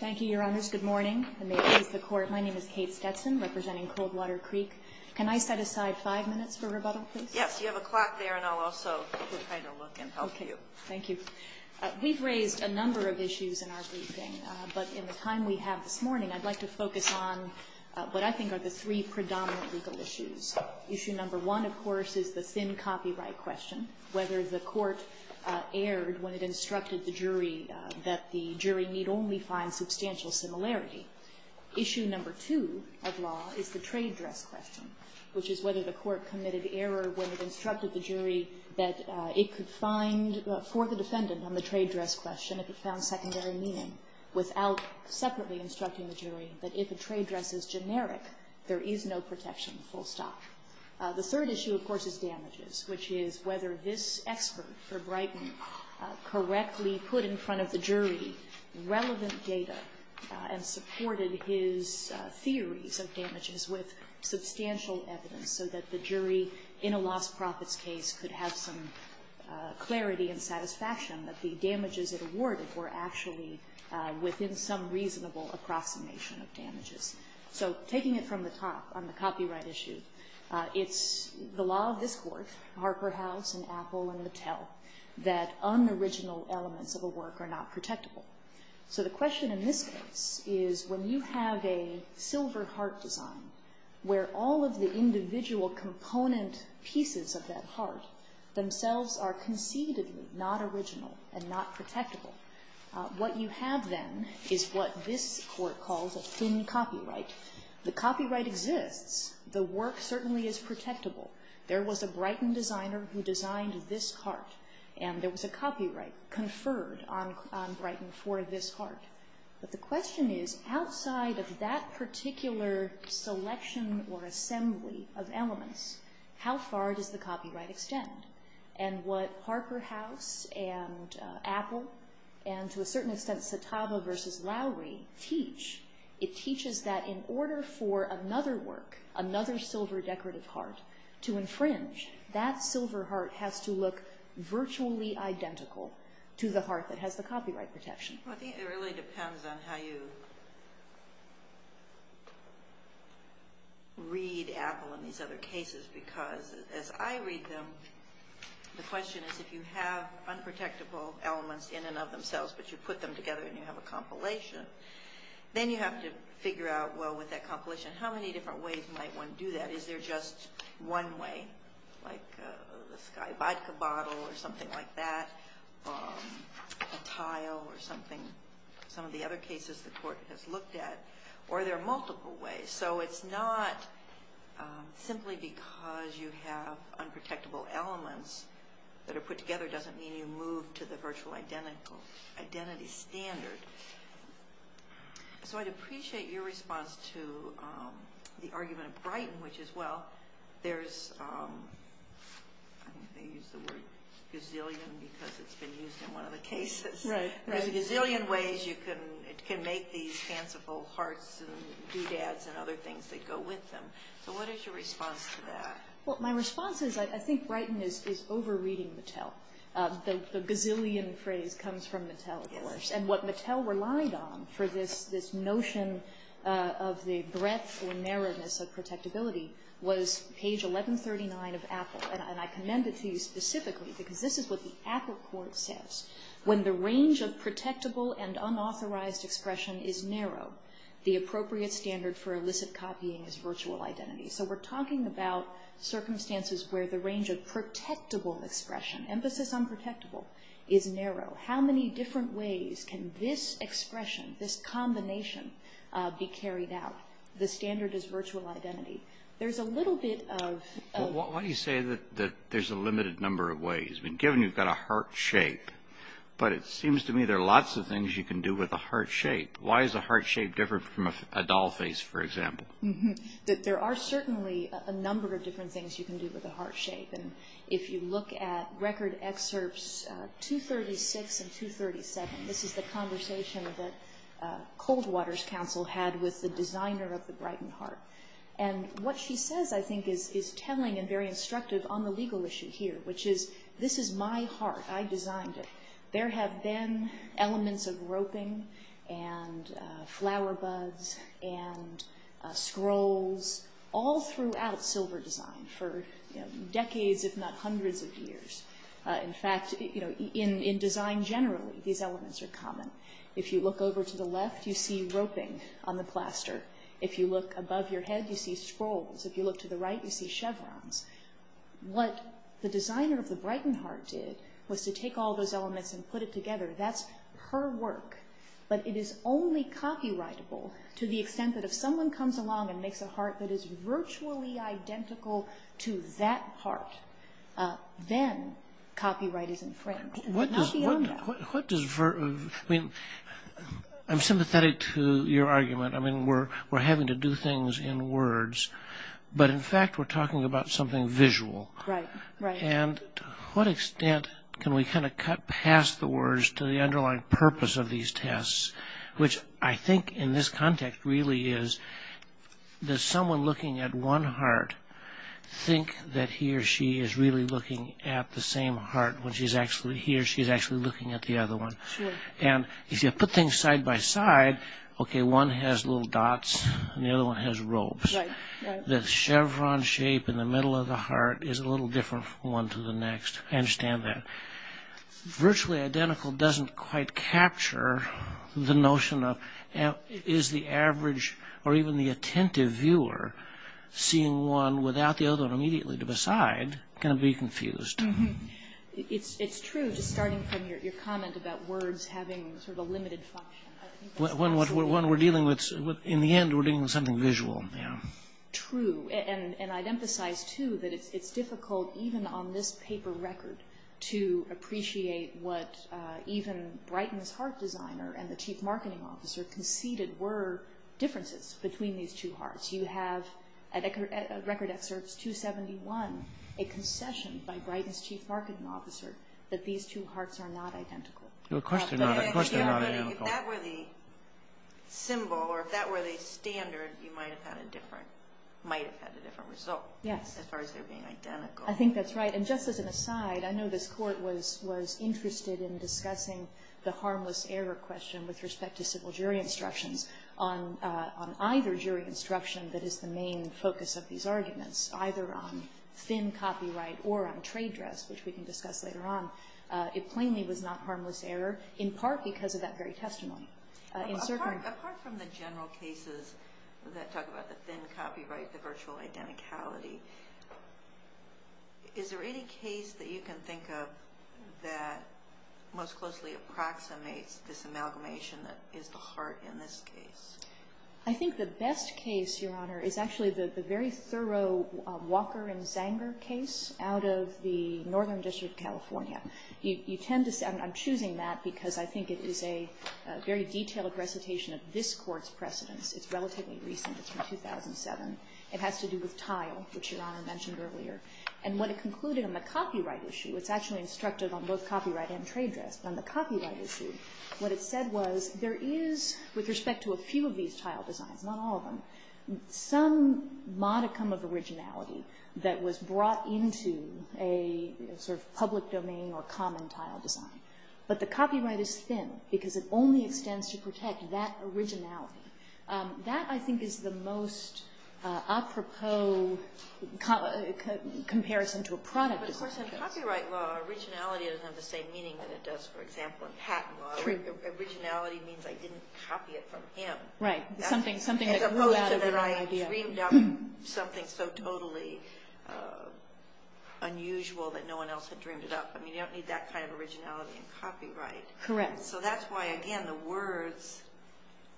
Thank you, Your Honors. Good morning, and may it please the Court. My name is Kate Stetson, representing Coldwater Creek. Can I set aside five minutes for rebuttal, please? Yes. You have a clock there, and I'll also try to look and help you. Okay. Thank you. We've raised a number of issues in our briefing, but in the time we have this morning, I'd like to focus on what I think are the three predominant legal issues. Issue number one, of course, is the thin copyright question, whether the court erred when it instructed the jury that the jury need only find substantial similarity. Issue number two of law is the trade dress question, which is whether the court committed error when it instructed the jury that it could find, for the defendant on the trade dress question, if it found secondary meaning, without separately instructing the jury that if a trade dress is generic, there is no protection, full stop. The third issue, of course, is damages, which is whether this expert for Brighton correctly put in front of the jury relevant data and supported his theories of damages with substantial evidence so that the jury, in a lost profits case, could have some clarity and satisfaction that the damages it awarded were actually within some reasonable approximation of damages. So taking it from the top on the copyright issue, it's the law of this court, Harper House and Apple and Mattel, that unoriginal elements of a work are not protectable. So the question in this case is when you have a silver heart design where all of the individual component pieces of that heart themselves are concededly not original and not protectable, what you have then is what this court calls a thin copyright. The copyright exists. The work certainly is protectable. There was a Brighton designer who designed this heart, and there was a copyright conferred on Brighton for this heart. But the question is, outside of that particular selection or assembly of elements, how far does the copyright extend? And what Harper House and Apple and, to a certain extent, Satava versus Lowry teach, it teaches that in order for another work, another silver decorative heart, to infringe, that silver heart has to look virtually identical to the heart that has the copyright protection. I think it really depends on how you read Apple in these other cases, because as I read them, the question is if you have unprotectable elements in and of themselves, but you put them together and you have a compilation, then you have to figure out, well, with that compilation, how many different ways might one do that? Is there just one way, like a sky vodka bottle or something like that, a tile or something, some of the other cases the court has looked at, or are there multiple ways? So it's not simply because you have unprotectable elements that are put together doesn't mean you move to the virtual identity standard. So I'd appreciate your response to the argument of Brighton, which is, well, there's, I think they use the word gazillion because it's been used in one of the cases. There's a gazillion ways you can make these fanciful hearts and doodads and other things that go with them. So what is your response to that? Well, my response is I think Brighton is over-reading Mattel. The gazillion phrase comes from Mattel, of course. And what Mattel relied on for this notion of the breadth or narrowness of protectability was page 1139 of Apple. And I commend it to you specifically because this is what the Apple court says. When the range of protectable and unauthorized expression is narrow, the appropriate standard for illicit copying is virtual identity. So we're talking about circumstances where the range of protectable expression, emphasis on protectable, is narrow. How many different ways can this expression, this combination, be carried out? The standard is virtual identity. There's a little bit of- Why do you say that there's a limited number of ways? Given you've got a heart shape, but it seems to me there are lots of things you can do with a heart shape. Why is a heart shape different from a doll face, for example? There are certainly a number of different things you can do with a heart shape. And if you look at record excerpts 236 and 237, this is the conversation that Coldwater's counsel had with the designer of the Brighton heart. And what she says, I think, is telling and very instructive on the legal issue here, which is this is my heart. I designed it. There have been elements of roping and flower buds and scrolls all throughout silver design for decades, if not hundreds of years. In fact, in design generally, these elements are common. If you look over to the left, you see roping on the plaster. If you look above your head, you see scrolls. If you look to the right, you see chevrons. What the designer of the Brighton heart did was to take all those elements and put it together. That's her work. But it is only copyrightable to the extent that if someone comes along and makes a heart that is virtually identical to that heart, then copyright is infringed. Not beyond that. I'm sympathetic to your argument. I mean, we're having to do things in words. But, in fact, we're talking about something visual. And to what extent can we kind of cut past the words to the underlying purpose of these tests, which I think in this context really is that someone looking at one heart thinks that he or she is really looking at the same heart when he or she is actually looking at the other one. And if you put things side by side, okay, one has little dots and the other one has ropes. The chevron shape in the middle of the heart is a little different from one to the next. I understand that. Virtually identical doesn't quite capture the notion of is the average or even the attentive viewer seeing one without the other one immediately to the side going to be confused. It's true, just starting from your comment about words having sort of a limited function. When we're dealing with, in the end, we're dealing with something visual. True. And I'd emphasize, too, that it's difficult even on this paper record to appreciate what even Brighton's heart designer and the chief marketing officer conceded were differences between these two hearts. You have, at Record Excerpts 271, a concession by Brighton's chief marketing officer that these two hearts are not identical. Of course they're not identical. If that were the symbol or if that were the standard, you might have had a different result. Yes. As far as their being identical. I think that's right. And just as an aside, I know this court was interested in discussing the harmless error question with respect to civil jury instructions on either jury instruction that is the main focus of these arguments, either on thin copyright or on trade dress, which we can discuss later on. It plainly was not harmless error, in part because of that very testimony. Apart from the general cases that talk about the thin copyright, the virtual identicality, is there any case that you can think of that most closely approximates this amalgamation that is the heart in this case? I think the best case, Your Honor, is actually the very thorough Walker and Zanger case out of the Northern District of California. I'm choosing that because I think it is a very detailed recitation of this Court's precedents. It's relatively recent. It's from 2007. It has to do with tile, which Your Honor mentioned earlier. And what it concluded on the copyright issue, it's actually instructed on both copyright and trade dress. But on the copyright issue, what it said was there is, with respect to a few of these tile designs, not all of them, some modicum of originality that was brought into a sort of public domain or common tile design. But the copyright is thin because it only extends to protect that originality. That, I think, is the most apropos comparison to a product. But, of course, in copyright law, originality doesn't have the same meaning that it does, for example, in patent law. Originality means I didn't copy it from him. Right. As opposed to that I dreamed up something so totally unusual that no one else had dreamed it up. I mean, you don't need that kind of originality in copyright. Correct. So that's why, again, the words,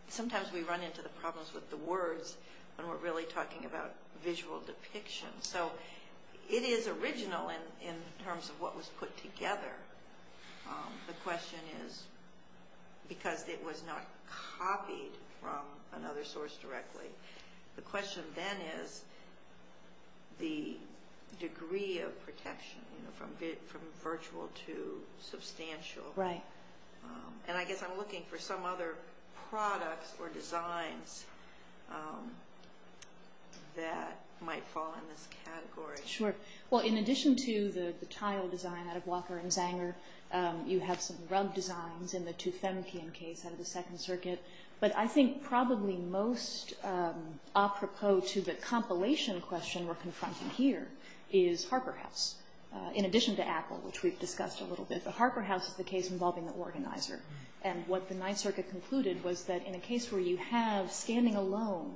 sometimes we run into the problems with the words when we're really talking about visual depiction. So it is original in terms of what was put together. The question is, because it was not copied from another source directly, the question then is the degree of protection from virtual to substantial. Right. And I guess I'm looking for some other products or designs that might fall in this category. Sure. Well, in addition to the tile design out of Walker and Zanger, you have some rug designs in the Tuthankian case out of the Second Circuit. But I think probably most apropos to the compilation question we're confronting here is Harper House, in addition to Apple, which we've discussed a little bit. The Harper House is the case involving the organizer. And what the Ninth Circuit concluded was that in a case where you have, standing alone,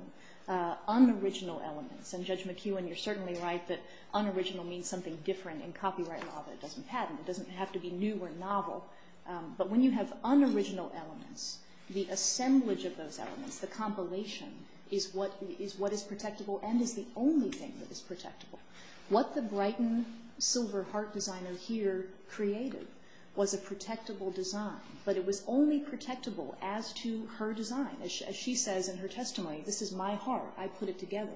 unoriginal elements, and Judge McEwen, you're certainly right that unoriginal means something different in copyright law that it doesn't patent. It doesn't have to be new or novel. But when you have unoriginal elements, the assemblage of those elements, the compilation, is what is protectable and is the only thing that is protectable. What the Brighton silver heart designer here created was a protectable design, but it was only protectable as to her design. As she says in her testimony, this is my heart. I put it together.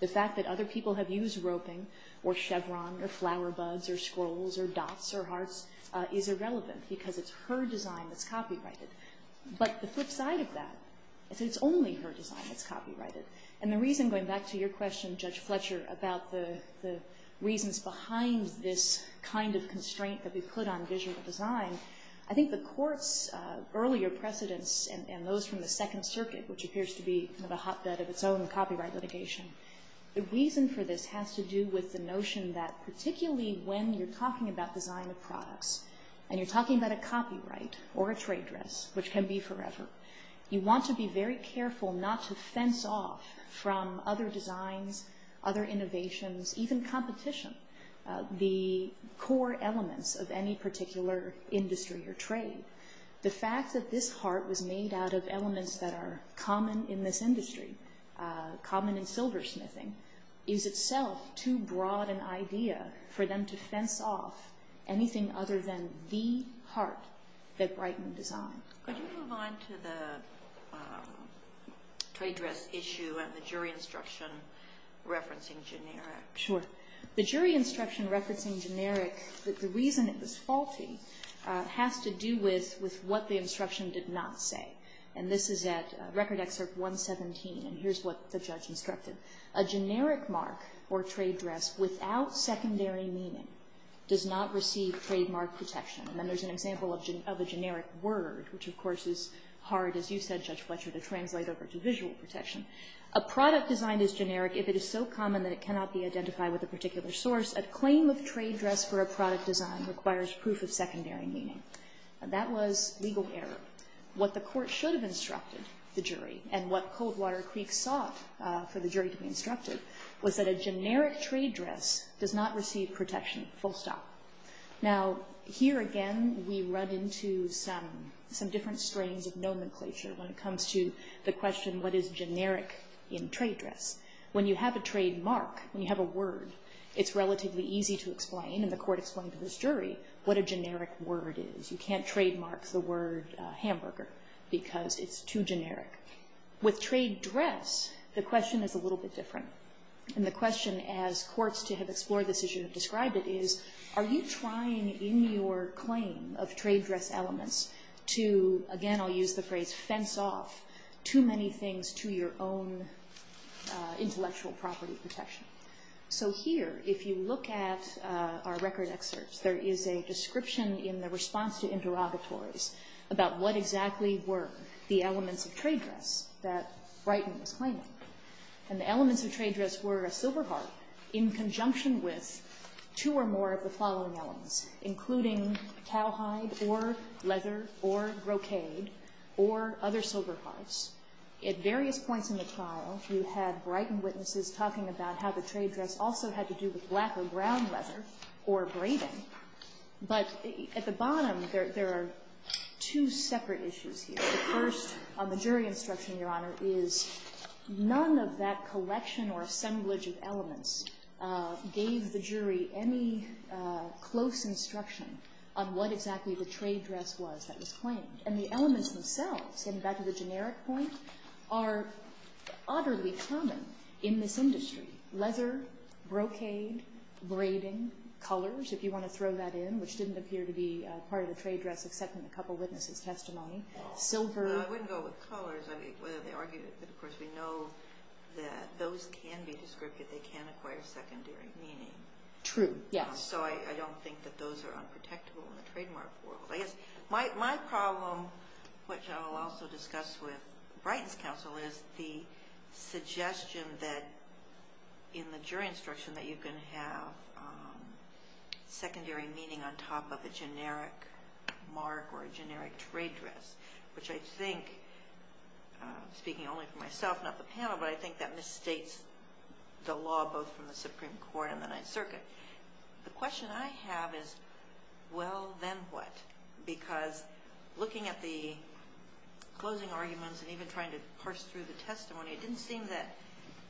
The fact that other people have used roping or chevron or flower buds or scrolls or dots or hearts is irrelevant because it's her design that's copyrighted. But the flip side of that is that it's only her design that's copyrighted. And the reason, going back to your question, Judge Fletcher, about the reasons behind this kind of constraint that we put on visual design, I think the court's earlier precedents and those from the Second Circuit, which appears to be kind of a hotbed of its own copyright litigation, the reason for this has to do with the notion that particularly when you're talking about design of products and you're talking about a copyright or a trade dress, which can be forever, you want to be very careful not to fence off from other designs, other innovations, even competition, the core elements of any particular industry or trade. The fact that this heart was made out of elements that are common in this industry, common in silversmithing, is itself too broad an idea for them to fence off anything other than the heart that Brightman designed. Could you move on to the trade dress issue and the jury instruction referencing generic? Sure. The jury instruction referencing generic, the reason it was faulty has to do with what the instruction did not say. And this is at Record Excerpt 117, and here's what the judge instructed. A generic mark or trade dress without secondary meaning does not receive trademark protection. And then there's an example of a generic word, which of course is hard, as you said, Judge Fletcher, to translate over to visual protection. A product design is generic if it is so common that it cannot be identified with a particular source. A claim of trade dress for a product design requires proof of secondary meaning. That was legal error. What the court should have instructed the jury and what Coldwater Creek sought for the jury to be instructed was that a generic trade dress does not receive protection, full stop. Now, here again, we run into some different strains of nomenclature when it comes to the question of explaining what is generic in trade dress. When you have a trademark, when you have a word, it's relatively easy to explain, and the court explained to this jury what a generic word is. You can't trademark the word hamburger because it's too generic. With trade dress, the question is a little bit different. And the question as courts to have explored this issue and described it is, are you trying in your claim of trade dress elements to, again, I'll use the phrase fence off too many things to your own intellectual property protection? So here, if you look at our record excerpts, there is a description in the response to interrogatories about what exactly were the elements of trade dress that Brighton was claiming. And the elements of trade dress were a silver heart in conjunction with two or more of the following elements, including cowhide or leather or brocade or other silver hearts. At various points in the trial, you had Brighton witnesses talking about how the trade dress also had to do with black or brown leather or braiding. But at the bottom, there are two separate issues here. The first, on the jury instruction, Your Honor, is none of that collection or assemblage of elements gave the jury any close instruction on what exactly the trade dress was that was claimed. And the elements themselves, getting back to the generic point, are utterly common in this industry. Leather, brocade, braiding, colors, if you want to throw that in, which didn't appear to be part of the trade dress except in a couple witnesses' testimony, silver. I wouldn't go with colors, whether they argued it. But, of course, we know that those can be descriptive. They can acquire secondary meaning. True. So I don't think that those are unprotectable in the trademark world. I guess my problem, which I will also discuss with Brighton's counsel, is the suggestion that in the jury instruction that you can have secondary meaning on top of a generic mark or a generic trade dress, which I think, speaking only for myself, not the panel, but I think that misstates the law both from the Supreme Court and the Ninth Circuit. The question I have is, well, then what? Because looking at the closing arguments and even trying to parse through the testimony, it didn't seem that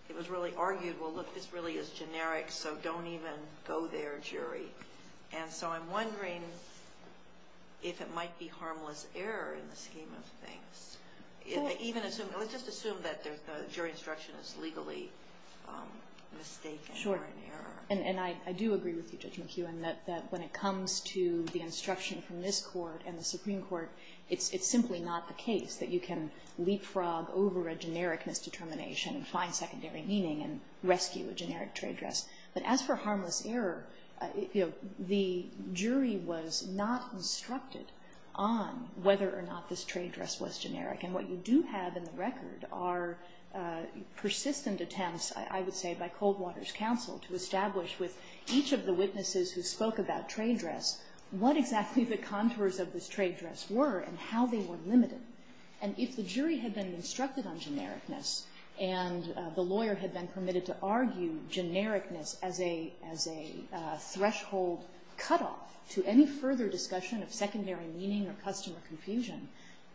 it was really argued, well, look, this really is generic, so don't even go there, jury. And so I'm wondering if it might be harmless error in the scheme of things. Let's just assume that the jury instruction is legally mistaken or in error. Sure. And I do agree with you, Judge McKeown, that when it comes to the instruction from this Court and the Supreme Court, it's simply not the case that you can leapfrog over a generic misdetermination and find secondary meaning and rescue a generic trade dress. But as for harmless error, you know, the jury was not instructed on whether or not this trade dress was generic. And what you do have in the record are persistent attempts, I would say, by Coldwater's counsel to establish with each of the witnesses who spoke about trade dress what exactly the contours of this trade dress were and how they were limited. And if the jury had been instructed on genericness and the lawyer had been permitted to argue genericness as a threshold cutoff to any further discussion of secondary meaning or customer confusion,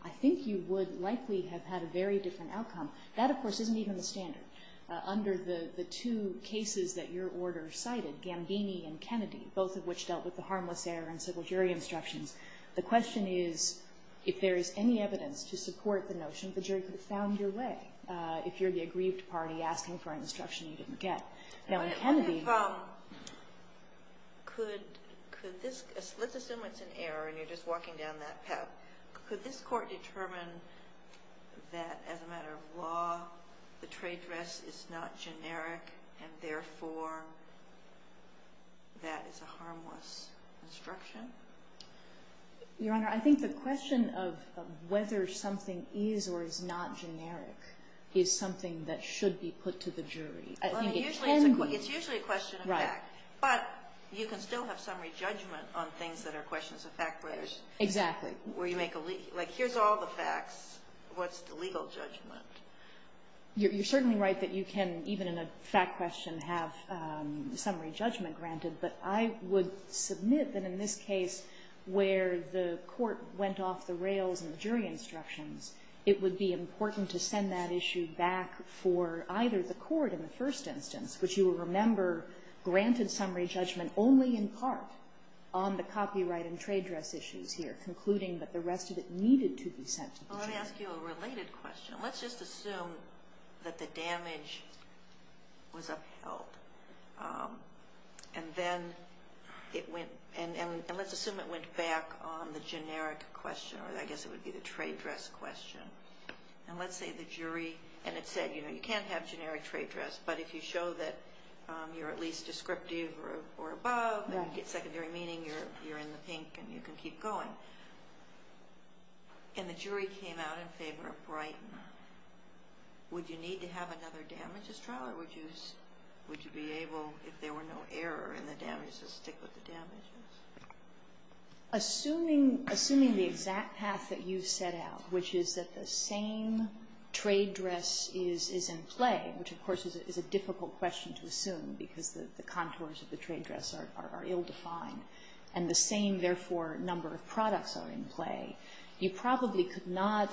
I think you would likely have had a very different outcome. That, of course, isn't even the standard. Under the two cases that your order cited, Gambini and Kennedy, both of which dealt with the harmless error in civil jury instructions, the question is if there is any evidence to support the notion the jury could have found your way if you're the aggrieved party asking for an instruction you didn't get. Now, in Kennedy... Could this... Let's assume it's an error and you're just walking down that path. Could this court determine that as a matter of law, the trade dress is not generic and therefore that is a harmless instruction? Your Honor, I think the question of whether something is or is not generic is something that should be put to the jury. I think it can be... Well, it's usually a question of fact. Right. But you can still have summary judgment on things that are questions of fact, where there's... Exactly. Where you make a... Like, here's all the facts. What's the legal judgment? You're certainly right that you can, even in a fact question, have summary judgment granted. But I would submit that in this case where the court went off the rails in the jury instructions, it would be important to send that issue back for either the court in the first instance, which you will remember granted summary judgment only in part on the copyright and trade dress issues here, concluding that the rest of it needed to be sent to the jury. Well, let me ask you a related question. Let's just assume that the damage was upheld and then it went... And let's assume it went back on the generic question, or I guess it would be the trade dress question. And let's say the jury... And it said, you know, you can't have generic trade dress, but if you show that you're at least descriptive or above and get secondary meaning, you're in the pink and you can keep going. And the jury came out in favor of Brighton. Would you need to have another damages trial or would you be able, if there were no error in the damages, to stick with the damages? Assuming the exact path that you set out, which is that the same trade dress is in play, which of course is a difficult question to assume because the contours of the trade dress are ill-defined, and the same, therefore, number of products are in play, you probably could not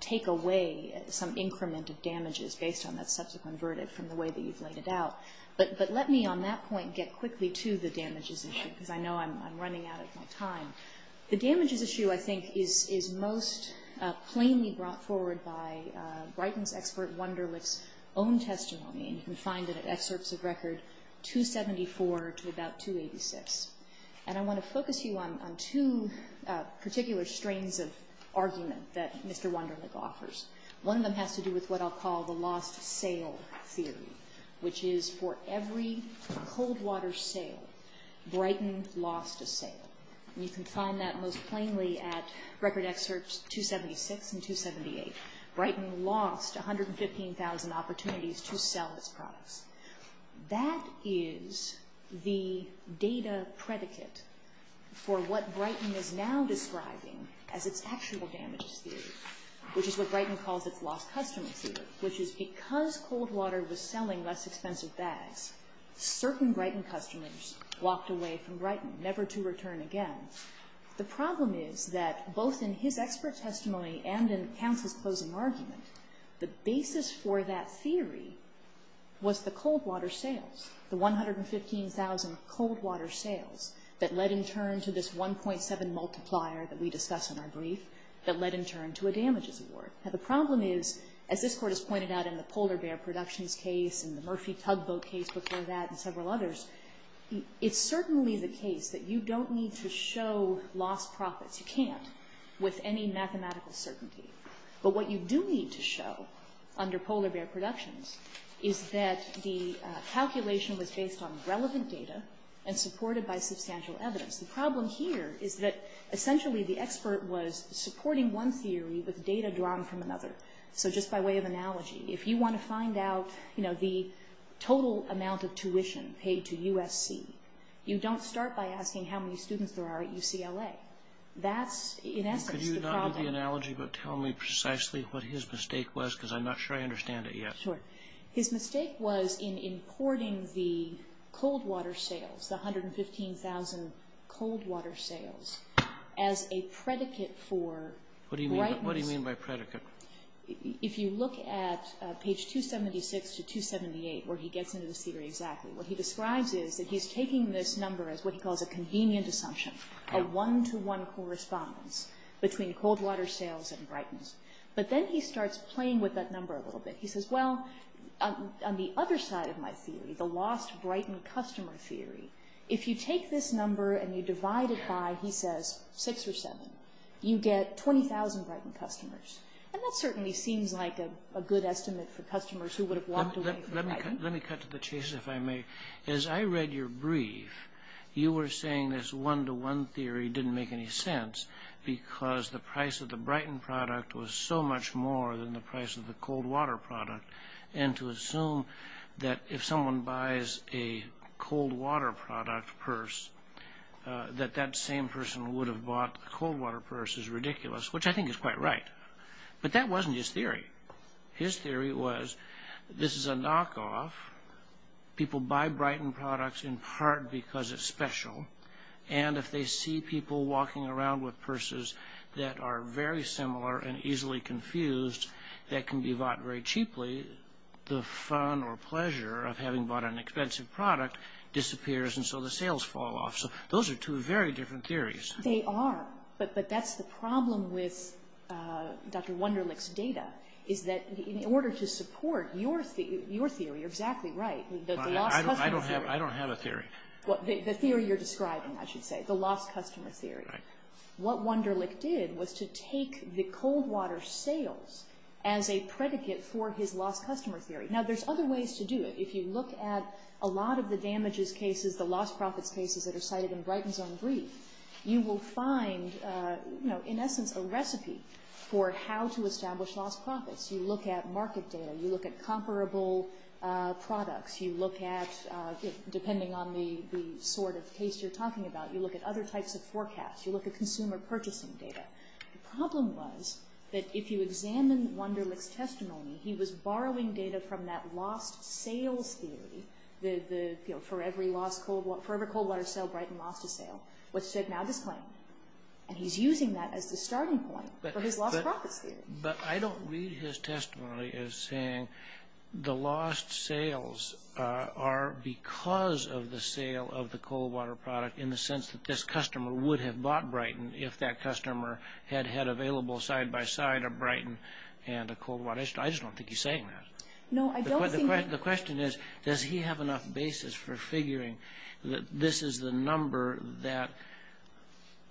take away some increment of damages based on that subsequent verdict from the way that you've laid it out. But let me on that point get quickly to the damages issue, because I know I'm running out of my time. The damages issue, I think, is most plainly brought forward by Brighton's expert Wunderlich's own testimony, and you can find it in excerpts of record 274 to about 286. And I want to focus you on two particular strains of argument that Mr. Wunderlich offers. One of them has to do with what I'll call the lost sale theory, which is for every cold water sale, Brighton lost a sale. And you can find that most plainly at record excerpts 276 and 278. Brighton lost 115,000 opportunities to sell its products. That is the data predicate for what Brighton is now describing as its actual damages theory, which is what Brighton calls its lost customer theory, which is because cold water was selling less expensive bags, certain Brighton customers walked away from Brighton, never to return again. The problem is that both in his expert testimony and in counsel's closing argument, the basis for that theory was the cold water sales, the 115,000 cold water sales that led in turn to this 1.7 multiplier that we discuss in our brief that led in turn to a damages award. Now, the problem is, as this Court has pointed out in the Polar Bear Productions case and the Murphy Tugboat case before that and several others, it's certainly the case that you don't need to show lost profits. You can't with any mathematical certainty. But what you do need to show under Polar Bear Productions is that the calculation was based on relevant data and supported by substantial evidence. The problem here is that essentially the expert was supporting one theory with data drawn from another. So just by way of analogy, if you want to find out, you know, the total amount of tuition paid to USC, you don't start by asking how many students there are at UCLA. That's in essence the problem. Could you not give the analogy but tell me precisely what his mistake was because I'm not sure I understand it yet. His mistake was in importing the cold water sales, the 115,000 cold water sales as a predicate for brightness. What do you mean by predicate? If you look at page 276 to 278 where he gets into this theory exactly, what he describes is that he's taking this number as what he calls a convenient assumption, a one-to-one correspondence between cold water sales and brightness. But then he starts playing with that number a little bit. He says, well, on the other side of my theory, the lost Brighton customer theory, if you take this number and you divide it by, he says, six or seven, you get 20,000 Brighton customers. And that certainly seems like a good estimate for customers who would have walked away from Brighton. Let me cut to the chase, if I may. As I read your brief, you were saying this one-to-one theory didn't make any sense because the price of the Brighton product was so much more than the price of the cold water product. And to assume that if someone buys a cold water product purse, that that same person would have bought the cold water purse is ridiculous, which I think is quite right. But that wasn't his theory. His theory was this is a knockoff. People buy Brighton products in part because it's special. And if they see people walking around with purses that are very similar and easily confused that can be bought very cheaply, the fun or pleasure of having bought an expensive product disappears, and so the sales fall off. So those are two very different theories. They are. But that's the problem with Dr. Wunderlich's data, is that in order to support your theory, you're exactly right. I don't have a theory. The theory you're describing, I should say, the lost customer theory. Right. What Wunderlich did was to take the cold water sales as a predicate for his lost customer theory. Now, there's other ways to do it. If you look at a lot of the damages cases, the lost profits cases that are cited in Brighton's own brief, you will find, in essence, a recipe for how to establish lost profits. You look at market data. You look at comparable products. You look at, depending on the sort of case you're talking about, you look at other types of forecasts. You look at consumer purchasing data. The problem was that if you examine Wunderlich's testimony, he was borrowing data from that lost sales theory, the forever cold water sale, Brighton lost a sale, which should now disclaim. And he's using that as the starting point for his lost profits theory. But I don't read his testimony as saying the lost sales are because of the sale of the cold water product in the sense that this customer would have bought Brighton if that customer had had available side-by-side a Brighton and a cold water. I just don't think he's saying that. No, I don't think he... The question is, does he have enough basis for figuring that this is the number that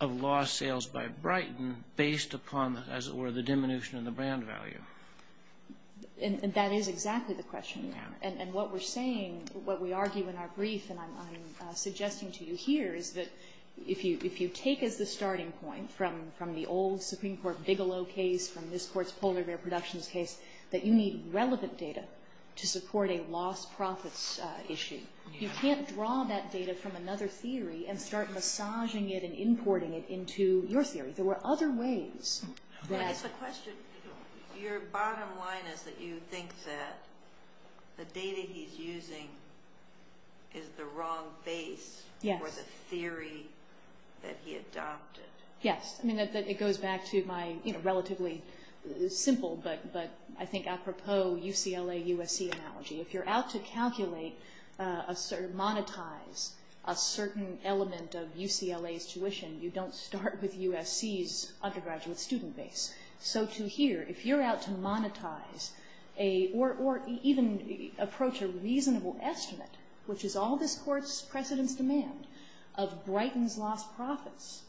of lost sales by Brighton based upon, as it were, the diminution of the brand value? And that is exactly the question. And what we're saying, what we argue in our brief, and I'm suggesting to you here, is that if you take as the starting point from the old Supreme Court Bigelow case, from this court's polar bear productions case, that you need relevant data to support a lost profits issue. You can't draw that data from another theory and start massaging it and importing it into your theory. There were other ways that... I guess the question, your bottom line is that you think that the data he's using is the wrong base for the theory that he adopted. Yes. I mean, it goes back to my relatively simple, but I think apropos UCLA-USC analogy. If you're out to calculate or monetize a certain element of UCLA's tuition, you don't start with USC's undergraduate student base. So to here, if you're out to monetize or even approach a reasonable estimate, which is all this court's precedent's demand of Brighton's lost profits,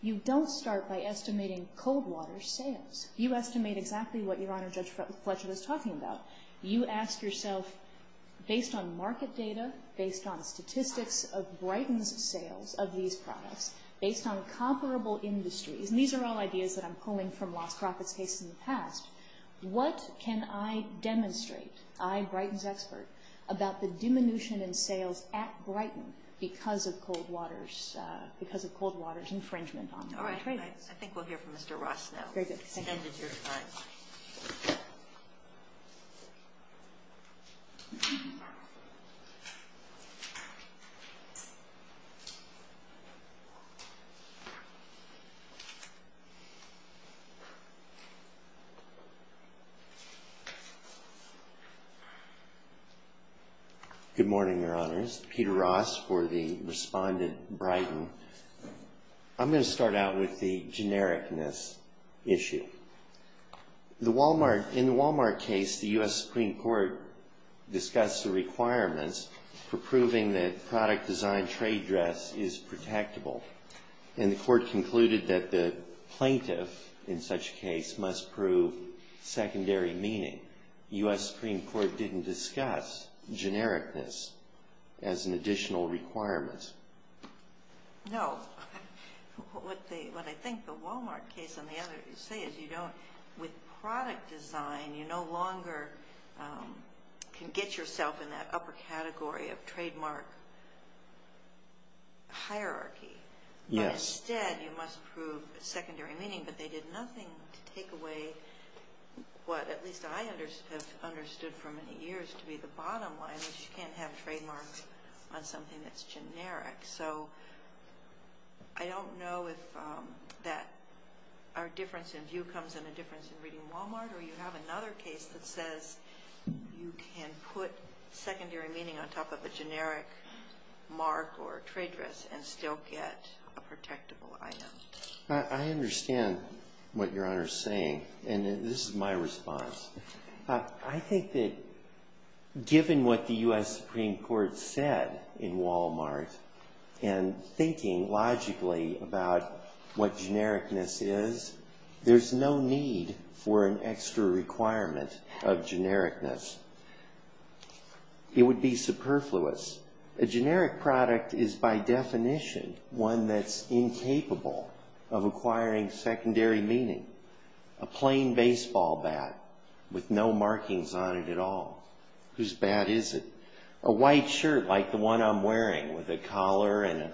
you don't start by estimating cold water sales. You estimate exactly what Your Honor Judge Fletcher was talking about. You ask yourself, based on market data, based on statistics of Brighton's sales of these products, based on comparable industries, and these are all ideas that I'm pulling from lost profits cases in the past. What can I demonstrate, I, Brighton's expert, about the diminution in sales at Brighton because of cold water's infringement on... All right. I think we'll hear from Mr. Ross now. Very good. Thank you. Good morning, Your Honors. Peter Ross for the respondent, Brighton. I'm going to start out with the genericness issue. In the Walmart case, the U.S. Supreme Court discussed the requirements for proving that product design trade dress is protectable, and the court concluded that the plaintiff, in such a case, must prove secondary meaning. U.S. Supreme Court didn't discuss genericness as an additional requirement. No. What I think the Walmart case and the others say is you don't, with product design, you no longer can get yourself in that upper category of trademark hierarchy. Yes. But instead, you must prove secondary meaning, but they did nothing to take away what, at least I have understood for many years, to be the bottom line, which you can't have trademarks on something that's generic. So I don't know if our difference in view comes in a difference in reading Walmart, or you have another case that says you can put secondary meaning on top of a generic mark or trade dress and still get a protectable item. I understand what Your Honor is saying, and this is my response. I think that given what the U.S. Supreme Court said in Walmart, and thinking logically about what genericness is, there's no need for an extra requirement of genericness. It would be superfluous. A generic product is, by definition, one that's incapable of acquiring secondary meaning. A plain baseball bat with no markings on it at all. Whose bat is it? A white shirt like the one I'm wearing with a collar and a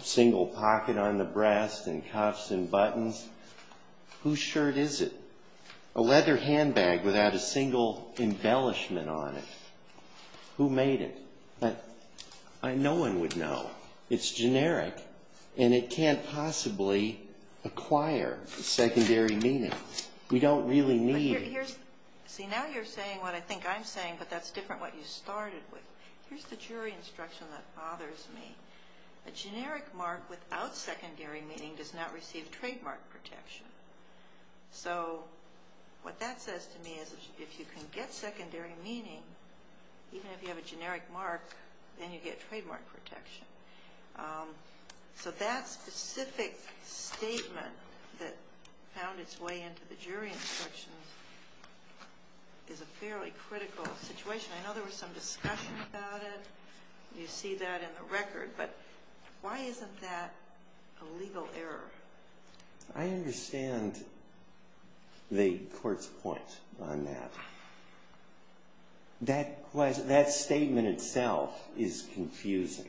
single pocket on the breast and cuffs and buttons. Whose shirt is it? A leather handbag without a single embellishment on it. Who made it? No one would know. It's generic, and it can't possibly acquire secondary meaning. We don't really need it. See, now you're saying what I think I'm saying, but that's different what you started with. Here's the jury instruction that bothers me. A generic mark without secondary meaning does not receive trademark protection. So what that says to me is if you can get secondary meaning, even if you have a generic mark, then you get trademark protection. So that specific statement that found its way into the jury instructions is a fairly critical situation. I know there was some discussion about it. You see that in the record. But why isn't that a legal error? I understand the court's point on that. That statement itself is confusing.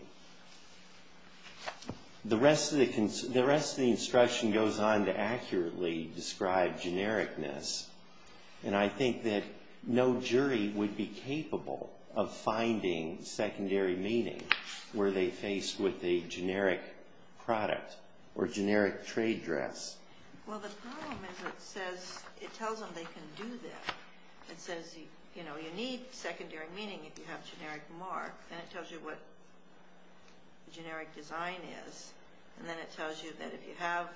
The rest of the instruction goes on to accurately describe genericness, and I think that no jury would be capable of finding secondary meaning were they faced with a generic product or generic trade dress. Well, the problem is it tells them they can do that. It says, you know, you need secondary meaning if you have generic mark. Then it tells you what the generic design is. And then it tells you that if you have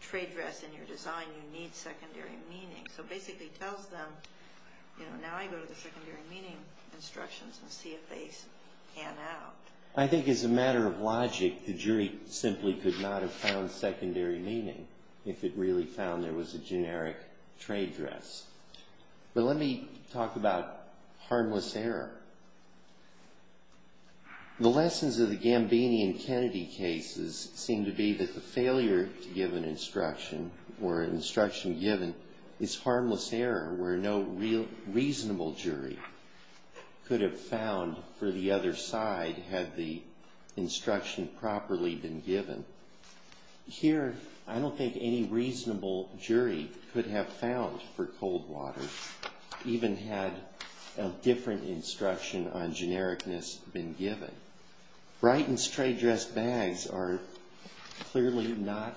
trade dress in your design, you need secondary meaning. So basically it tells them, you know, now I go to the secondary meaning instructions and see if they pan out. I think as a matter of logic, the jury simply could not have found secondary meaning if it really found there was a generic trade dress. But let me talk about harmless error. The lessons of the Gambini and Kennedy cases seem to be that the failure to give an instruction or an instruction given is harmless error where no reasonable jury could have found for the other side had the instruction properly been given. Here, I don't think any reasonable jury could have found for cold water even had a different instruction on genericness been given. Brighton's trade dress bags are clearly not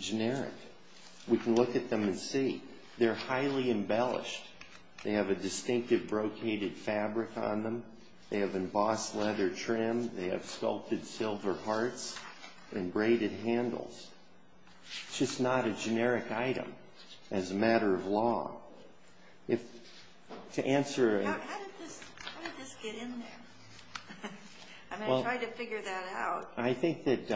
generic. We can look at them and see. They're highly embellished. They have a distinctive brocaded fabric on them. They have embossed leather trim. They have sculpted silver parts and braided handles. It's just not a generic item as a matter of law. To answer... How did this get in there? I'm going to try to figure that out. I think that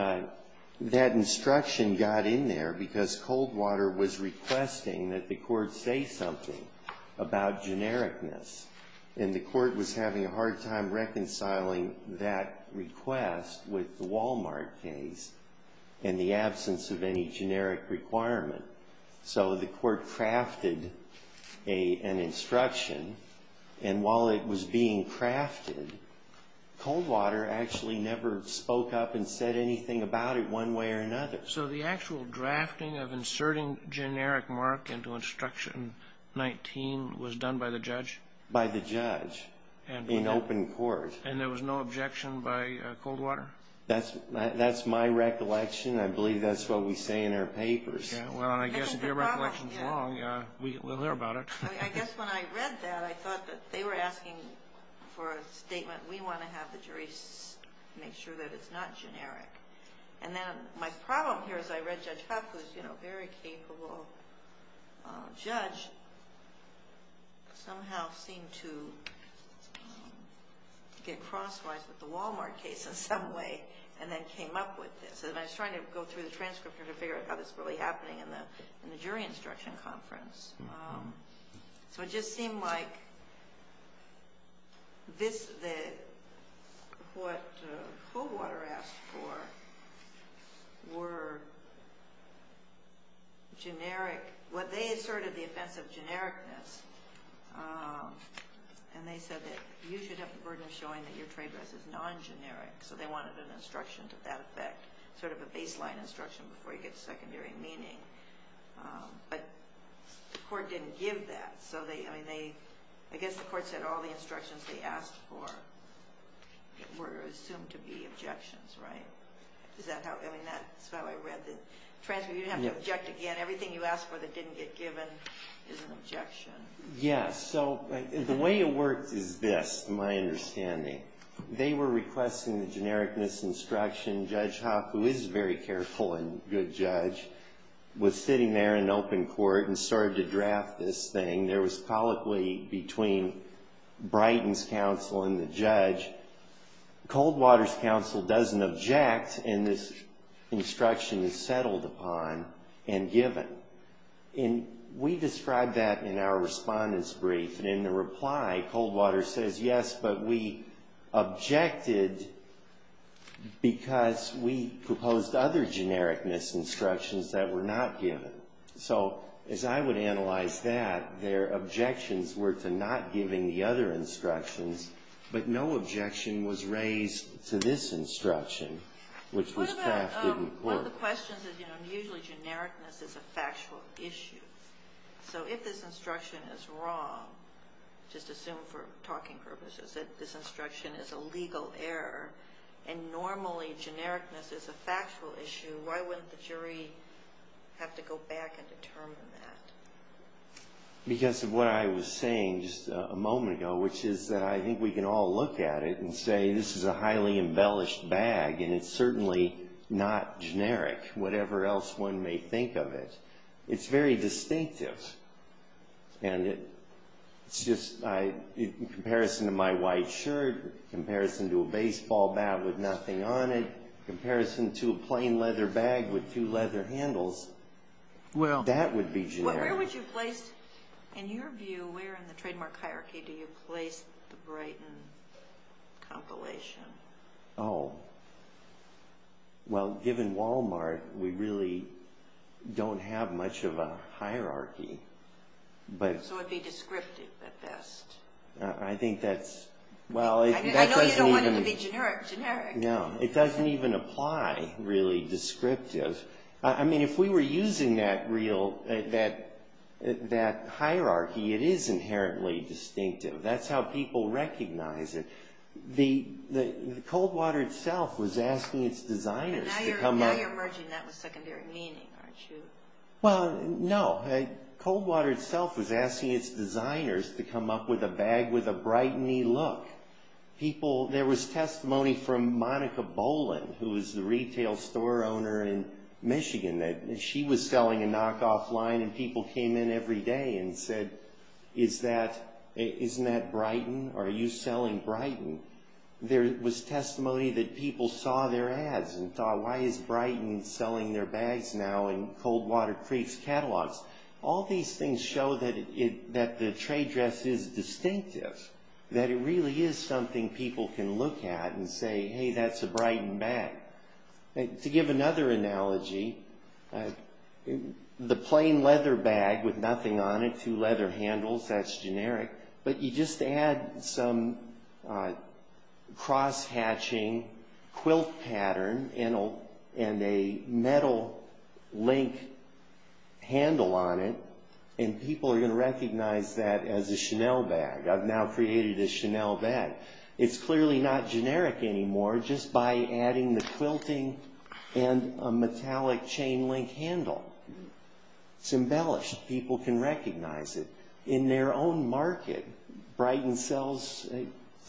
that instruction got in there because cold water was requesting that the court say something about genericness. And the court was having a hard time reconciling that request with the Walmart case in the absence of any generic requirement. So the court crafted an instruction. And while it was being crafted, cold water actually never spoke up and said anything about it one way or another. So the actual drafting of inserting generic mark into instruction 19 was done by the judge? By the judge in open court. And there was no objection by cold water? That's my recollection. I believe that's what we say in our papers. Well, I guess if your recollection is wrong, we'll hear about it. I guess when I read that, I thought that they were asking for a statement. We want to have the jury make sure that it's not generic. And then my problem here is I read Judge Huff, who's a very capable judge, somehow seemed to get crosswise with the Walmart case in some way and then came up with this. And I was trying to go through the transcript here to figure out how this is really happening in the jury instruction conference. So it just seemed like what cold water asked for were generic. Well, they asserted the offense of genericness, and they said that you should have the burden of showing that your trade dress is non-generic. So they wanted an instruction to that effect, sort of a baseline instruction before you get to secondary meaning. But the court didn't give that. So they, I mean, they, I guess the court said all the instructions they asked for were assumed to be objections, right? Is that how, I mean, that's how I read the transcript. You didn't have to object again. Everything you asked for that didn't get given is an objection. Yes. So the way it worked is this, to my understanding. They were requesting the genericness instruction. Judge Hopp, who is a very careful and good judge, was sitting there in open court and started to draft this thing. There was colloquy between Brighton's counsel and the judge. Coldwater's counsel doesn't object, and this instruction is settled upon and given. And we described that in our respondent's brief. And in the reply, Coldwater says, yes, but we objected because we proposed other genericness instructions that were not given. So, as I would analyze that, their objections were to not giving the other instructions, but no objection was raised to this instruction, which was passed in court. One of the questions is, you know, usually genericness is a factual issue. So if this instruction is wrong, just assume for talking purposes that this instruction is a legal error, and normally genericness is a factual issue, why wouldn't the jury have to go back and determine that? Because of what I was saying just a moment ago, which is that I think we can all look at it and say this is a highly embellished bag, and it's certainly not generic, whatever else one may think of it. It's very distinctive, and it's just, in comparison to my white shirt, in comparison to a baseball bat with nothing on it, in comparison to a plain leather bag with two leather handles, that would be generic. Well, where would you place, in your view, where in the trademark hierarchy do you place the Brighton compilation? Oh, well, given Walmart, we really don't have much of a hierarchy. So it would be descriptive at best. I think that's, well, it doesn't even... I know you don't want it to be generic. No, it doesn't even apply, really, descriptive. I mean, if we were using that hierarchy, it is inherently distinctive. That's how people recognize it. Coldwater itself was asking its designers to come up... Now you're merging that with secondary meaning, aren't you? Well, no. Coldwater itself was asking its designers to come up with a bag with a Brighton-y look. There was testimony from Monica Bolin, who is the retail store owner in Michigan, that she was selling a knockoff line, and people came in every day and said, isn't that Brighton? Are you selling Brighton? There was testimony that people saw their ads and thought, why is Brighton selling their bags now in Coldwater Creek's catalogs? All these things show that the trade dress is distinctive, that it really is something people can look at and say, hey, that's a Brighton bag. To give another analogy, the plain leather bag with nothing on it, two leather handles, that's generic, but you just add some cross-hatching quilt pattern and a metal link handle on it, and people are going to recognize that as a Chanel bag. I've now created a Chanel bag. It's clearly not generic anymore just by adding the quilting and a metallic chain link handle. It's embellished. People can recognize it. In their own market, Brighton sells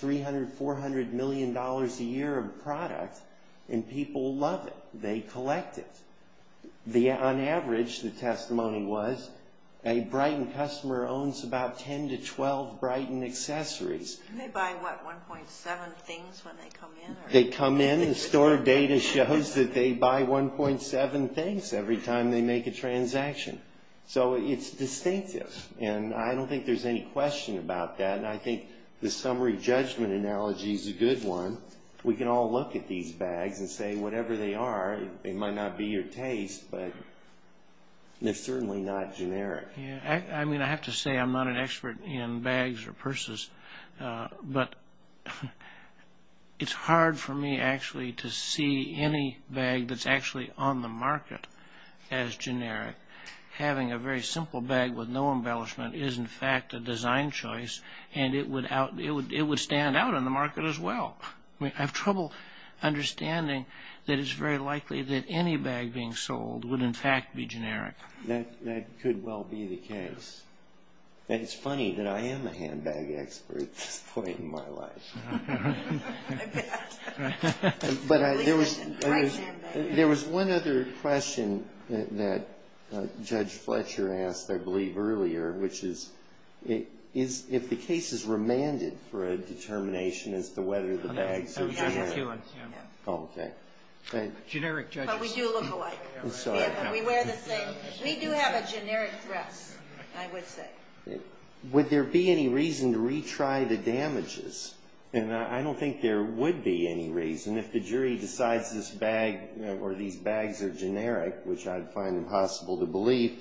$300 million, $400 million a year of product, and people love it. They collect it. On average, the testimony was, a Brighton customer owns about 10 to 12 Brighton accessories. They buy, what, 1.7 things when they come in? They come in, the store data shows that they buy 1.7 things every time they make a transaction. So it's distinctive, and I don't think there's any question about that, and I think the summary judgment analogy is a good one. We can all look at these bags and say whatever they are, it might not be your taste, but they're certainly not generic. I mean, I have to say I'm not an expert in bags or purses, but it's hard for me actually to see any bag that's actually on the market as generic. Having a very simple bag with no embellishment is, in fact, a design choice, and it would stand out in the market as well. I mean, I have trouble understanding that it's very likely that any bag being sold would, in fact, be generic. That could well be the case. And it's funny that I am a handbag expert at this point in my life. I bet. There was one other question that Judge Fletcher asked, I believe, earlier, which is if the case is remanded for a determination as to whether the bags are generic. No. Okay. But we do look alike. I'm sorry. We wear the same. We do have a generic dress, I would say. Would there be any reason to retry the damages? And I don't think there would be any reason. If the jury decides this bag or these bags are generic, which I'd find impossible to believe,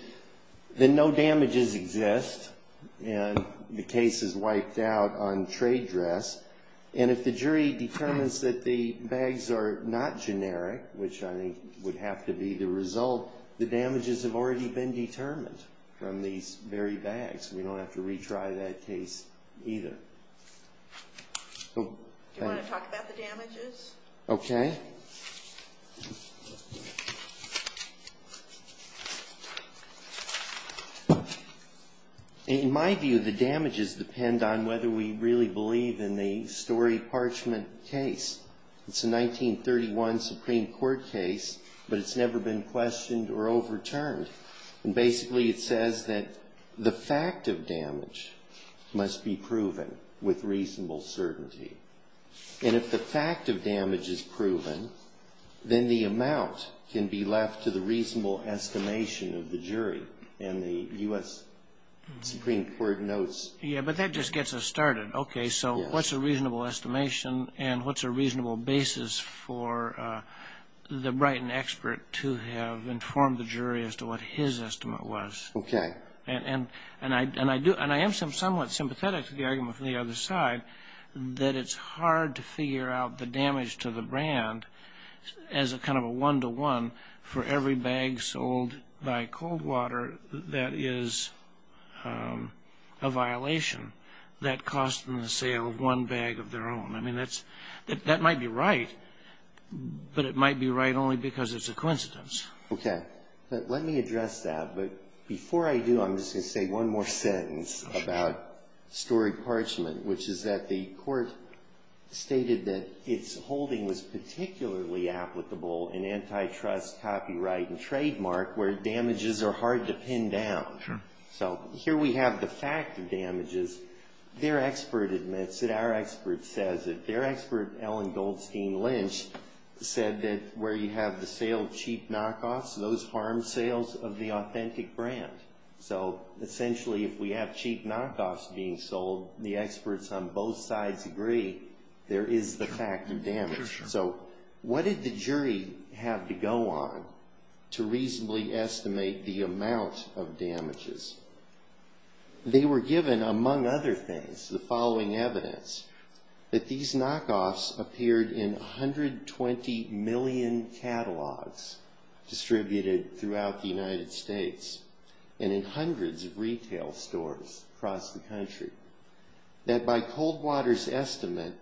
then no damages exist and the case is wiped out on trade dress. And if the jury determines that the bags are not generic, which I think would have to be the result, the damages have already been determined from these very bags. We don't have to retry that case either. Do you want to talk about the damages? Okay. In my view, the damages depend on whether we really believe in the Story-Parchment case. It's a 1931 Supreme Court case, but it's never been questioned or overturned. And basically it says that the fact of damage must be proven with reasonable certainty. And if the fact of damage is proven, then the amount can be left to the reasonable estimation of the jury in the U.S. Supreme Court notes. Yeah, but that just gets us started. Okay, so what's a reasonable estimation and what's a reasonable basis for the Brighton expert to have informed the jury as to what his estimate was? Okay. And I am somewhat sympathetic to the argument from the other side that it's hard to figure out the damage to the brand as a kind of a one-to-one for every bag sold by Coldwater that is a violation that cost them the sale of one bag of their own. I mean, that might be right, but it might be right only because it's a coincidence. Okay. Let me address that. But before I do, I'm just going to say one more sentence about Story-Parchment, which is that the court stated that its holding was particularly applicable in antitrust, copyright, and trademark where damages are hard to pin down. Sure. So here we have the fact of damages. Their expert admits it. Our expert says it. Their expert, Ellen Goldstein Lynch, said that where you have the sale of cheap knockoffs, those harm sales of the authentic brand. So essentially, if we have cheap knockoffs being sold, the experts on both sides agree there is the fact of damage. So what did the jury have to go on to reasonably estimate the amount of damages? They were given, among other things, the following evidence, that these knockoffs appeared in 120 million catalogs distributed throughout the United States and in hundreds of retail stores across the country, that by Coldwater's estimate,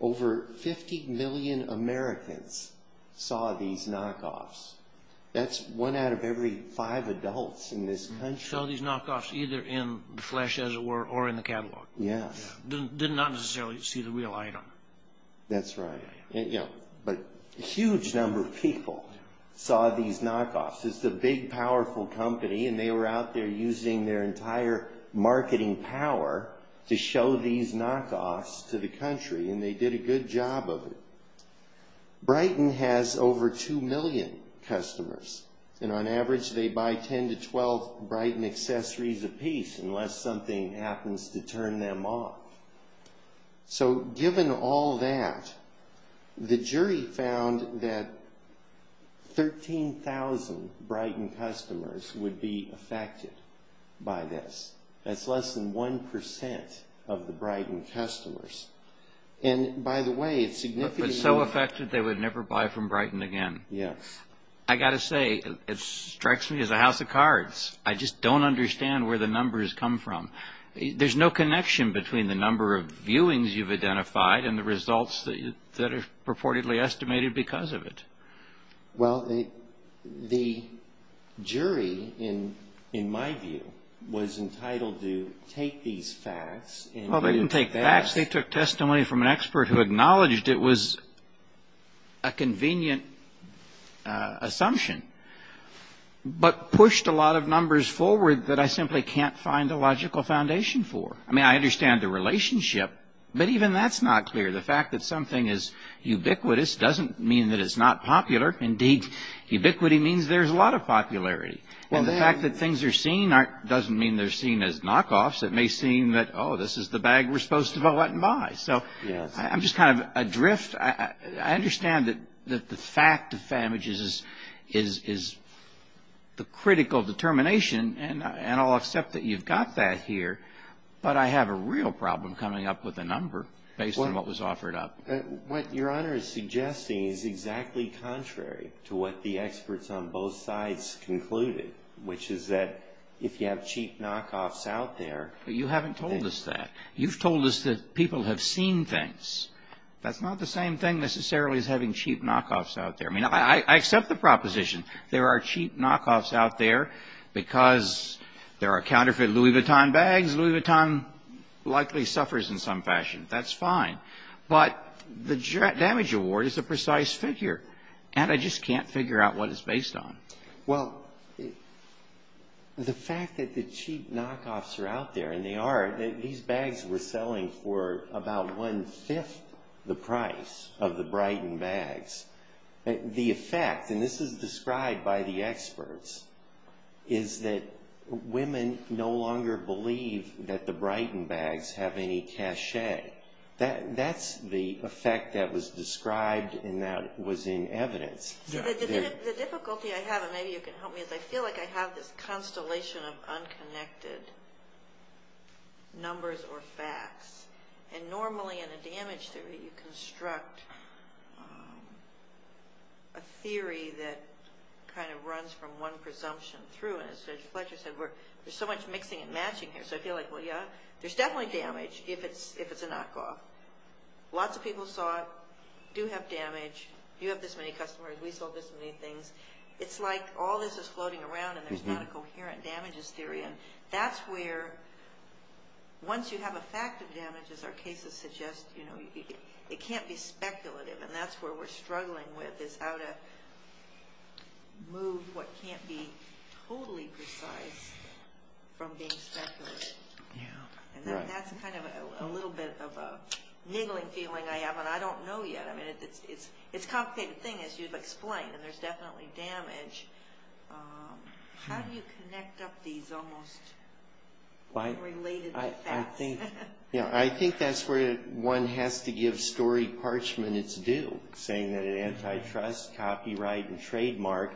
over 50 million Americans saw these knockoffs. That's one out of every five adults in this country. Saw these knockoffs either in the flesh, as it were, or in the catalog. Yes. Did not necessarily see the real item. That's right. But a huge number of people saw these knockoffs. It's a big, powerful company, and they were out there using their entire marketing power to show these knockoffs to the country, and they did a good job of it. Brighton has over 2 million customers, and on average they buy 10 to 12 Brighton accessories apiece unless something happens to turn them off. So given all that, the jury found that 13,000 Brighton customers would be affected by this. That's less than 1% of the Brighton customers. And by the way, it's significant. But so affected they would never buy from Brighton again. Yes. I've got to say, it strikes me as a house of cards. I just don't understand where the numbers come from. There's no connection between the number of viewings you've identified and the results that are purportedly estimated because of it. Well, the jury, in my view, was entitled to take these facts. Well, they didn't take facts. They took testimony from an expert who acknowledged it was a convenient assumption but pushed a lot of numbers forward that I simply can't find a logical foundation for. I mean, I understand the relationship, but even that's not clear. The fact that something is ubiquitous doesn't mean that it's not popular. Indeed, ubiquity means there's a lot of popularity. And the fact that things are seen doesn't mean they're seen as knockoffs. It may seem that, oh, this is the bag we're supposed to go out and buy. So I'm just kind of adrift. I understand that the fact of damages is the critical determination, and I'll accept that you've got that here, but I have a real problem coming up with a number based on what was offered up. What Your Honor is suggesting is exactly contrary to what the experts on both sides concluded, which is that if you have cheap knockoffs out there. But you haven't told us that. You've told us that people have seen things. That's not the same thing necessarily as having cheap knockoffs out there. I mean, I accept the proposition. There are cheap knockoffs out there because there are counterfeit Louis Vuitton bags. Louis Vuitton likely suffers in some fashion. That's fine. But the damage award is a precise figure, and I just can't figure out what it's based on. Well, the fact that the cheap knockoffs are out there, and they are. These bags were selling for about one-fifth the price of the Brighton bags. The effect, and this is described by the experts, is that women no longer believe that the Brighton bags have any cachet. That's the effect that was described and that was in evidence. The difficulty I have, and maybe you can help me, is I feel like I have this constellation of unconnected numbers or facts. And normally in a damage theory you construct a theory that kind of runs from one presumption through. And as Judge Fletcher said, there's so much mixing and matching here. So I feel like, well, yeah, there's definitely damage if it's a knockoff. Lots of people saw it, do have damage. You have this many customers, we sold this many things. It's like all this is floating around and there's not a coherent damages theory. And that's where, once you have a fact of damages, our cases suggest it can't be speculative. And that's where we're struggling with is how to move what can't be totally precise from being speculative. And that's kind of a little bit of a niggling feeling I have, and I don't know yet. I mean, it's a complicated thing, as you've explained, and there's definitely damage. How do you connect up these almost unrelated facts? I think that's where one has to give story parchment its due, saying that an antitrust copyright and trademark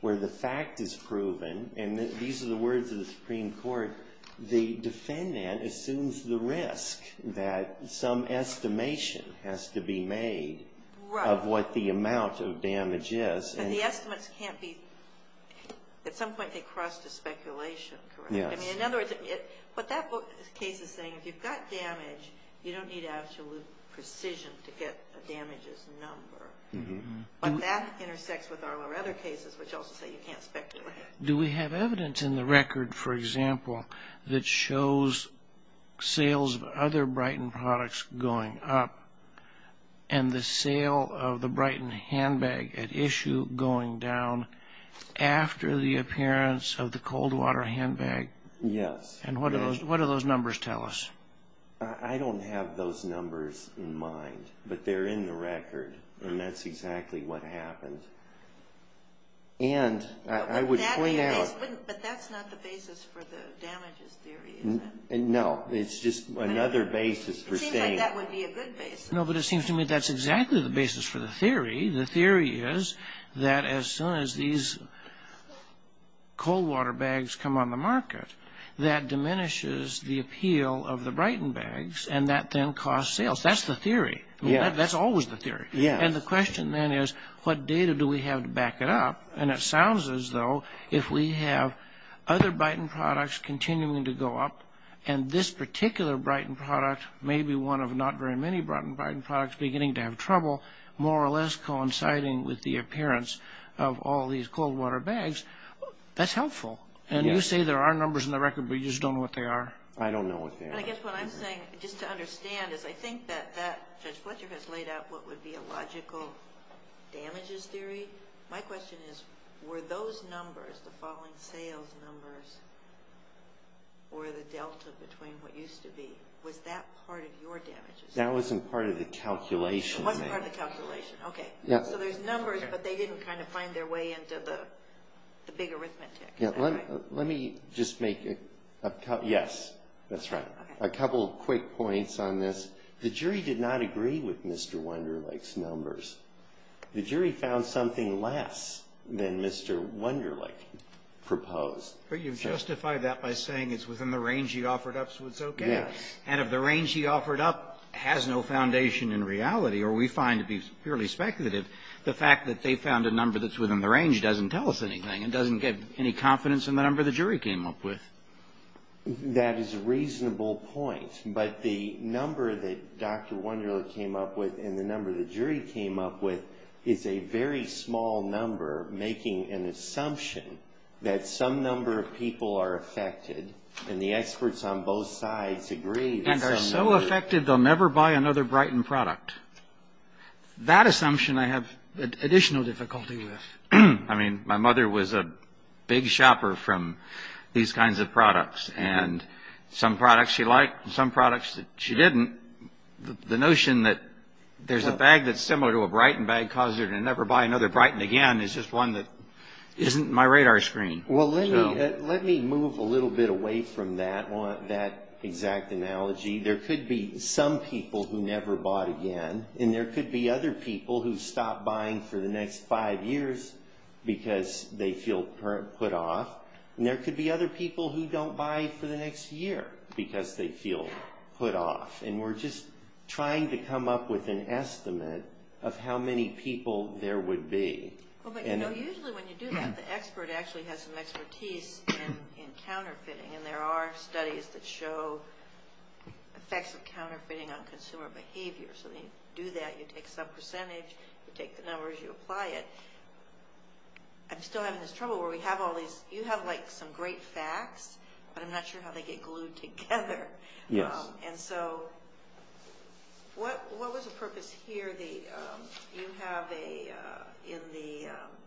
where the fact is proven, and these are the words of the Supreme Court, where the defendant assumes the risk that some estimation has to be made of what the amount of damage is. But the estimates can't be, at some point they cross to speculation, correct? I mean, in other words, what that case is saying, if you've got damage, you don't need absolute precision to get a damages number. But that intersects with our other cases, which also say you can't speculate. Do we have evidence in the record, for example, that shows sales of other Brighton products going up, and the sale of the Brighton handbag at issue going down after the appearance of the Coldwater handbag? Yes. And what do those numbers tell us? I don't have those numbers in mind, but they're in the record, and that's exactly what happened. And I would point out... But that's not the basis for the damages theory, is it? No, it's just another basis for saying... Seems like that would be a good basis. No, but it seems to me that's exactly the basis for the theory. The theory is that as soon as these Coldwater bags come on the market, that diminishes the appeal of the Brighton bags, and that then costs sales. That's the theory. Yes. That's always the theory. Yes. And the question then is, what data do we have to back it up? And it sounds as though if we have other Brighton products continuing to go up, and this particular Brighton product may be one of not very many Brighton products beginning to have trouble more or less coinciding with the appearance of all these Coldwater bags, that's helpful. And you say there are numbers in the record, but you just don't know what they are? I don't know what they are. And I guess what I'm saying, just to understand, is I think that Judge Fletcher has laid out what would be a logical damages theory. My question is, were those numbers, the falling sales numbers, or the delta between what used to be, was that part of your damages theory? That wasn't part of the calculation. It wasn't part of the calculation. Okay. So there's numbers, but they didn't kind of find their way into the big arithmetic. Let me just make a couple, yes, that's right, a couple quick points on this. The jury did not agree with Mr. Wunderlich's numbers. The jury found something less than Mr. Wunderlich proposed. But you've justified that by saying it's within the range he offered up, so it's okay. Yes. And if the range he offered up has no foundation in reality, or we find it to be purely speculative, the fact that they found a number that's within the range doesn't tell us anything. It doesn't give any confidence in the number the jury came up with. That is a reasonable point. But the number that Dr. Wunderlich came up with and the number the jury came up with is a very small number, making an assumption that some number of people are affected, and the experts on both sides agree. And are so affected they'll never buy another Brighton product. That assumption I have additional difficulty with. I mean, my mother was a big shopper from these kinds of products, and some products she liked and some products she didn't. The notion that there's a bag that's similar to a Brighton bag causes her to never buy another Brighton again is just one that isn't my radar screen. Well, let me move a little bit away from that exact analogy. There could be some people who never bought again, and there could be other people who stop buying for the next five years because they feel put off, and there could be other people who don't buy for the next year because they feel put off. And we're just trying to come up with an estimate of how many people there would be. Usually when you do that, the expert actually has some expertise in counterfeiting, and there are studies that show effects of counterfeiting on consumer behavior. So when you do that, you take some percentage, you take the numbers, you apply it. I'm still having this trouble where we have all these. You have, like, some great facts, but I'm not sure how they get glued together. Yes. And so what was the purpose here? You have in the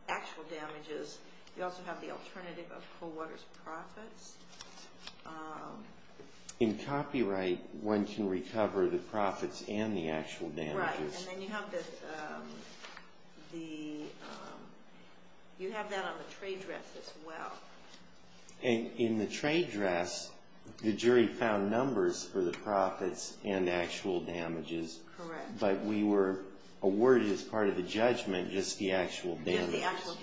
actual damages, you also have the alternative of Cool Water's profits. In copyright, one can recover the profits and the actual damages. Right, and then you have that on the trade drafts as well. And in the trade drafts, the jury found numbers for the profits and actual damages. Correct. But we were awarded as part of the judgment just the actual damages. Just the actual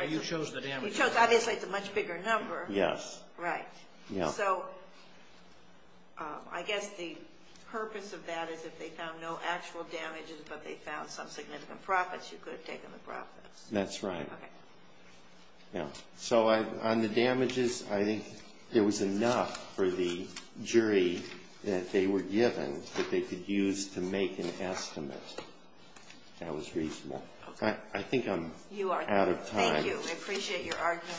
damages. You chose the damages. You chose, obviously, it's a much bigger number. Yes. Right. So I guess the purpose of that is if they found no actual damages, but they found some significant profits, you could have taken the profits. That's right. Okay. So on the damages, I think there was enough for the jury that they were given that they could use to make an estimate that was reasonable. I think I'm out of time. You are. Thank you. I appreciate your argument.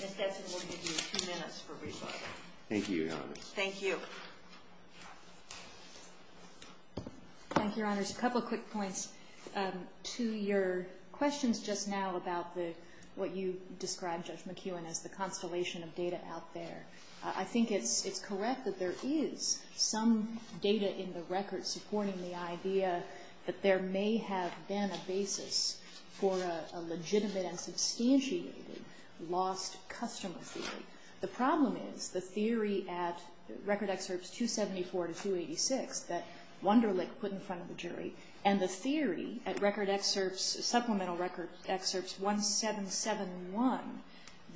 Ms. Dessen will give you two minutes for rebuttal. Thank you, Your Honor. Thank you. Thank you, Your Honors. A couple of quick points. To your questions just now about what you described, Judge McKeown, as the constellation of data out there. I think it's correct that there is some data in the record supporting the idea that there may have been a basis for a legitimate and substantiated lost customer theory. The problem is the theory at Record Excerpts 274 to 286 that Wunderlich put in front of the jury, and the theory at Supplemental Record Excerpts 1771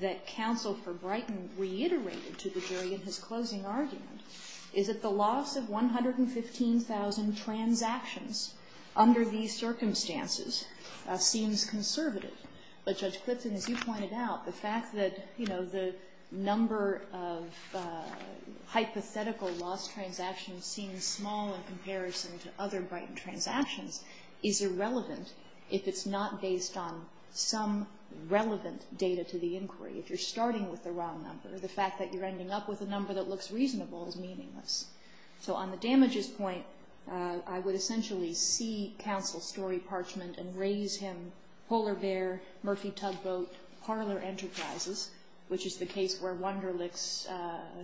that Counsel for Brighton reiterated to the jury in his closing argument is that the loss of 115,000 transactions under these circumstances seems conservative. But, Judge Clifton, as you pointed out, the fact that the number of hypothetical lost transactions seems small in comparison to other Brighton transactions is irrelevant if it's not based on some relevant data to the inquiry. If you're starting with the wrong number, the fact that you're ending up with a number that looks reasonable is meaningless. So on the damages point, I would essentially see Counsel's story parchment and raise him polar bear, Murphy tugboat, parlor enterprises, which is the case where Wunderlich's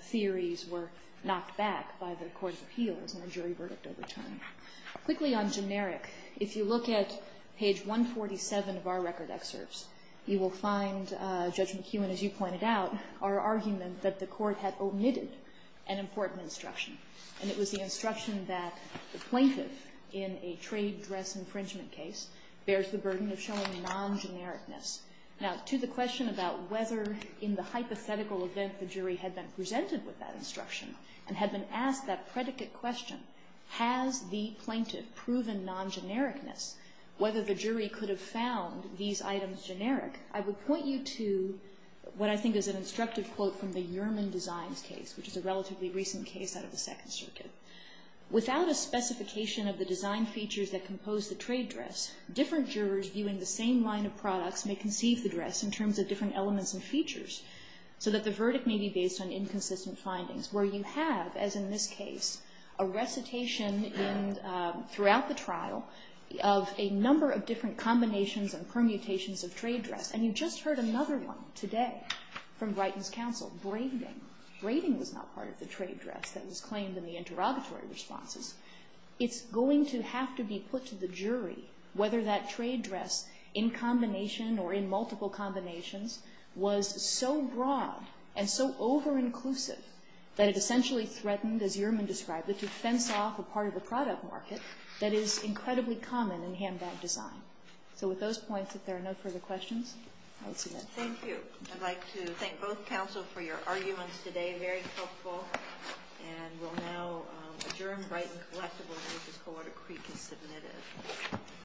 theories were knocked back by the Court of Appeals in a jury verdict over time. Quickly on generic, if you look at page 147 of our Record Excerpts, you will find, Judge McEwen, as you pointed out, our argument that the Court had omitted an important instruction. And it was the instruction that the plaintiff in a trade dress infringement case bears the burden of showing non-genericness. Now, to the question about whether in the hypothetical event the jury had been presented with that instruction and had been asked that predicate question, has the plaintiff proven non-genericness, whether the jury could have found these items generic, I would point you to what I think is an instructive quote from the Yerman Designs case, which is a relatively recent case out of the Second Circuit. Without a specification of the design features that compose the trade dress, different jurors viewing the same line of products may conceive the dress in terms of different elements and features, so that the verdict may be based on inconsistent findings, where you have, as in this case, a recitation throughout the trial of a number of different combinations and permutations of trade dress. And you just heard another one today from Brighton's counsel, braiding. Braiding was not part of the trade dress that was claimed in the interrogatory responses. It's going to have to be put to the jury whether that trade dress, in combination or in multiple combinations, was so broad and so over-inclusive that it essentially threatened, as Yerman described it, to fence off a part of the product market that is incredibly common in handbag design. So with those points, if there are no further questions, I will submit. Thank you. I'd like to thank both counsel for your arguments today. Very helpful. And we'll now adjourn Brighton Collective Order, which is Co-Order Creek is submitted.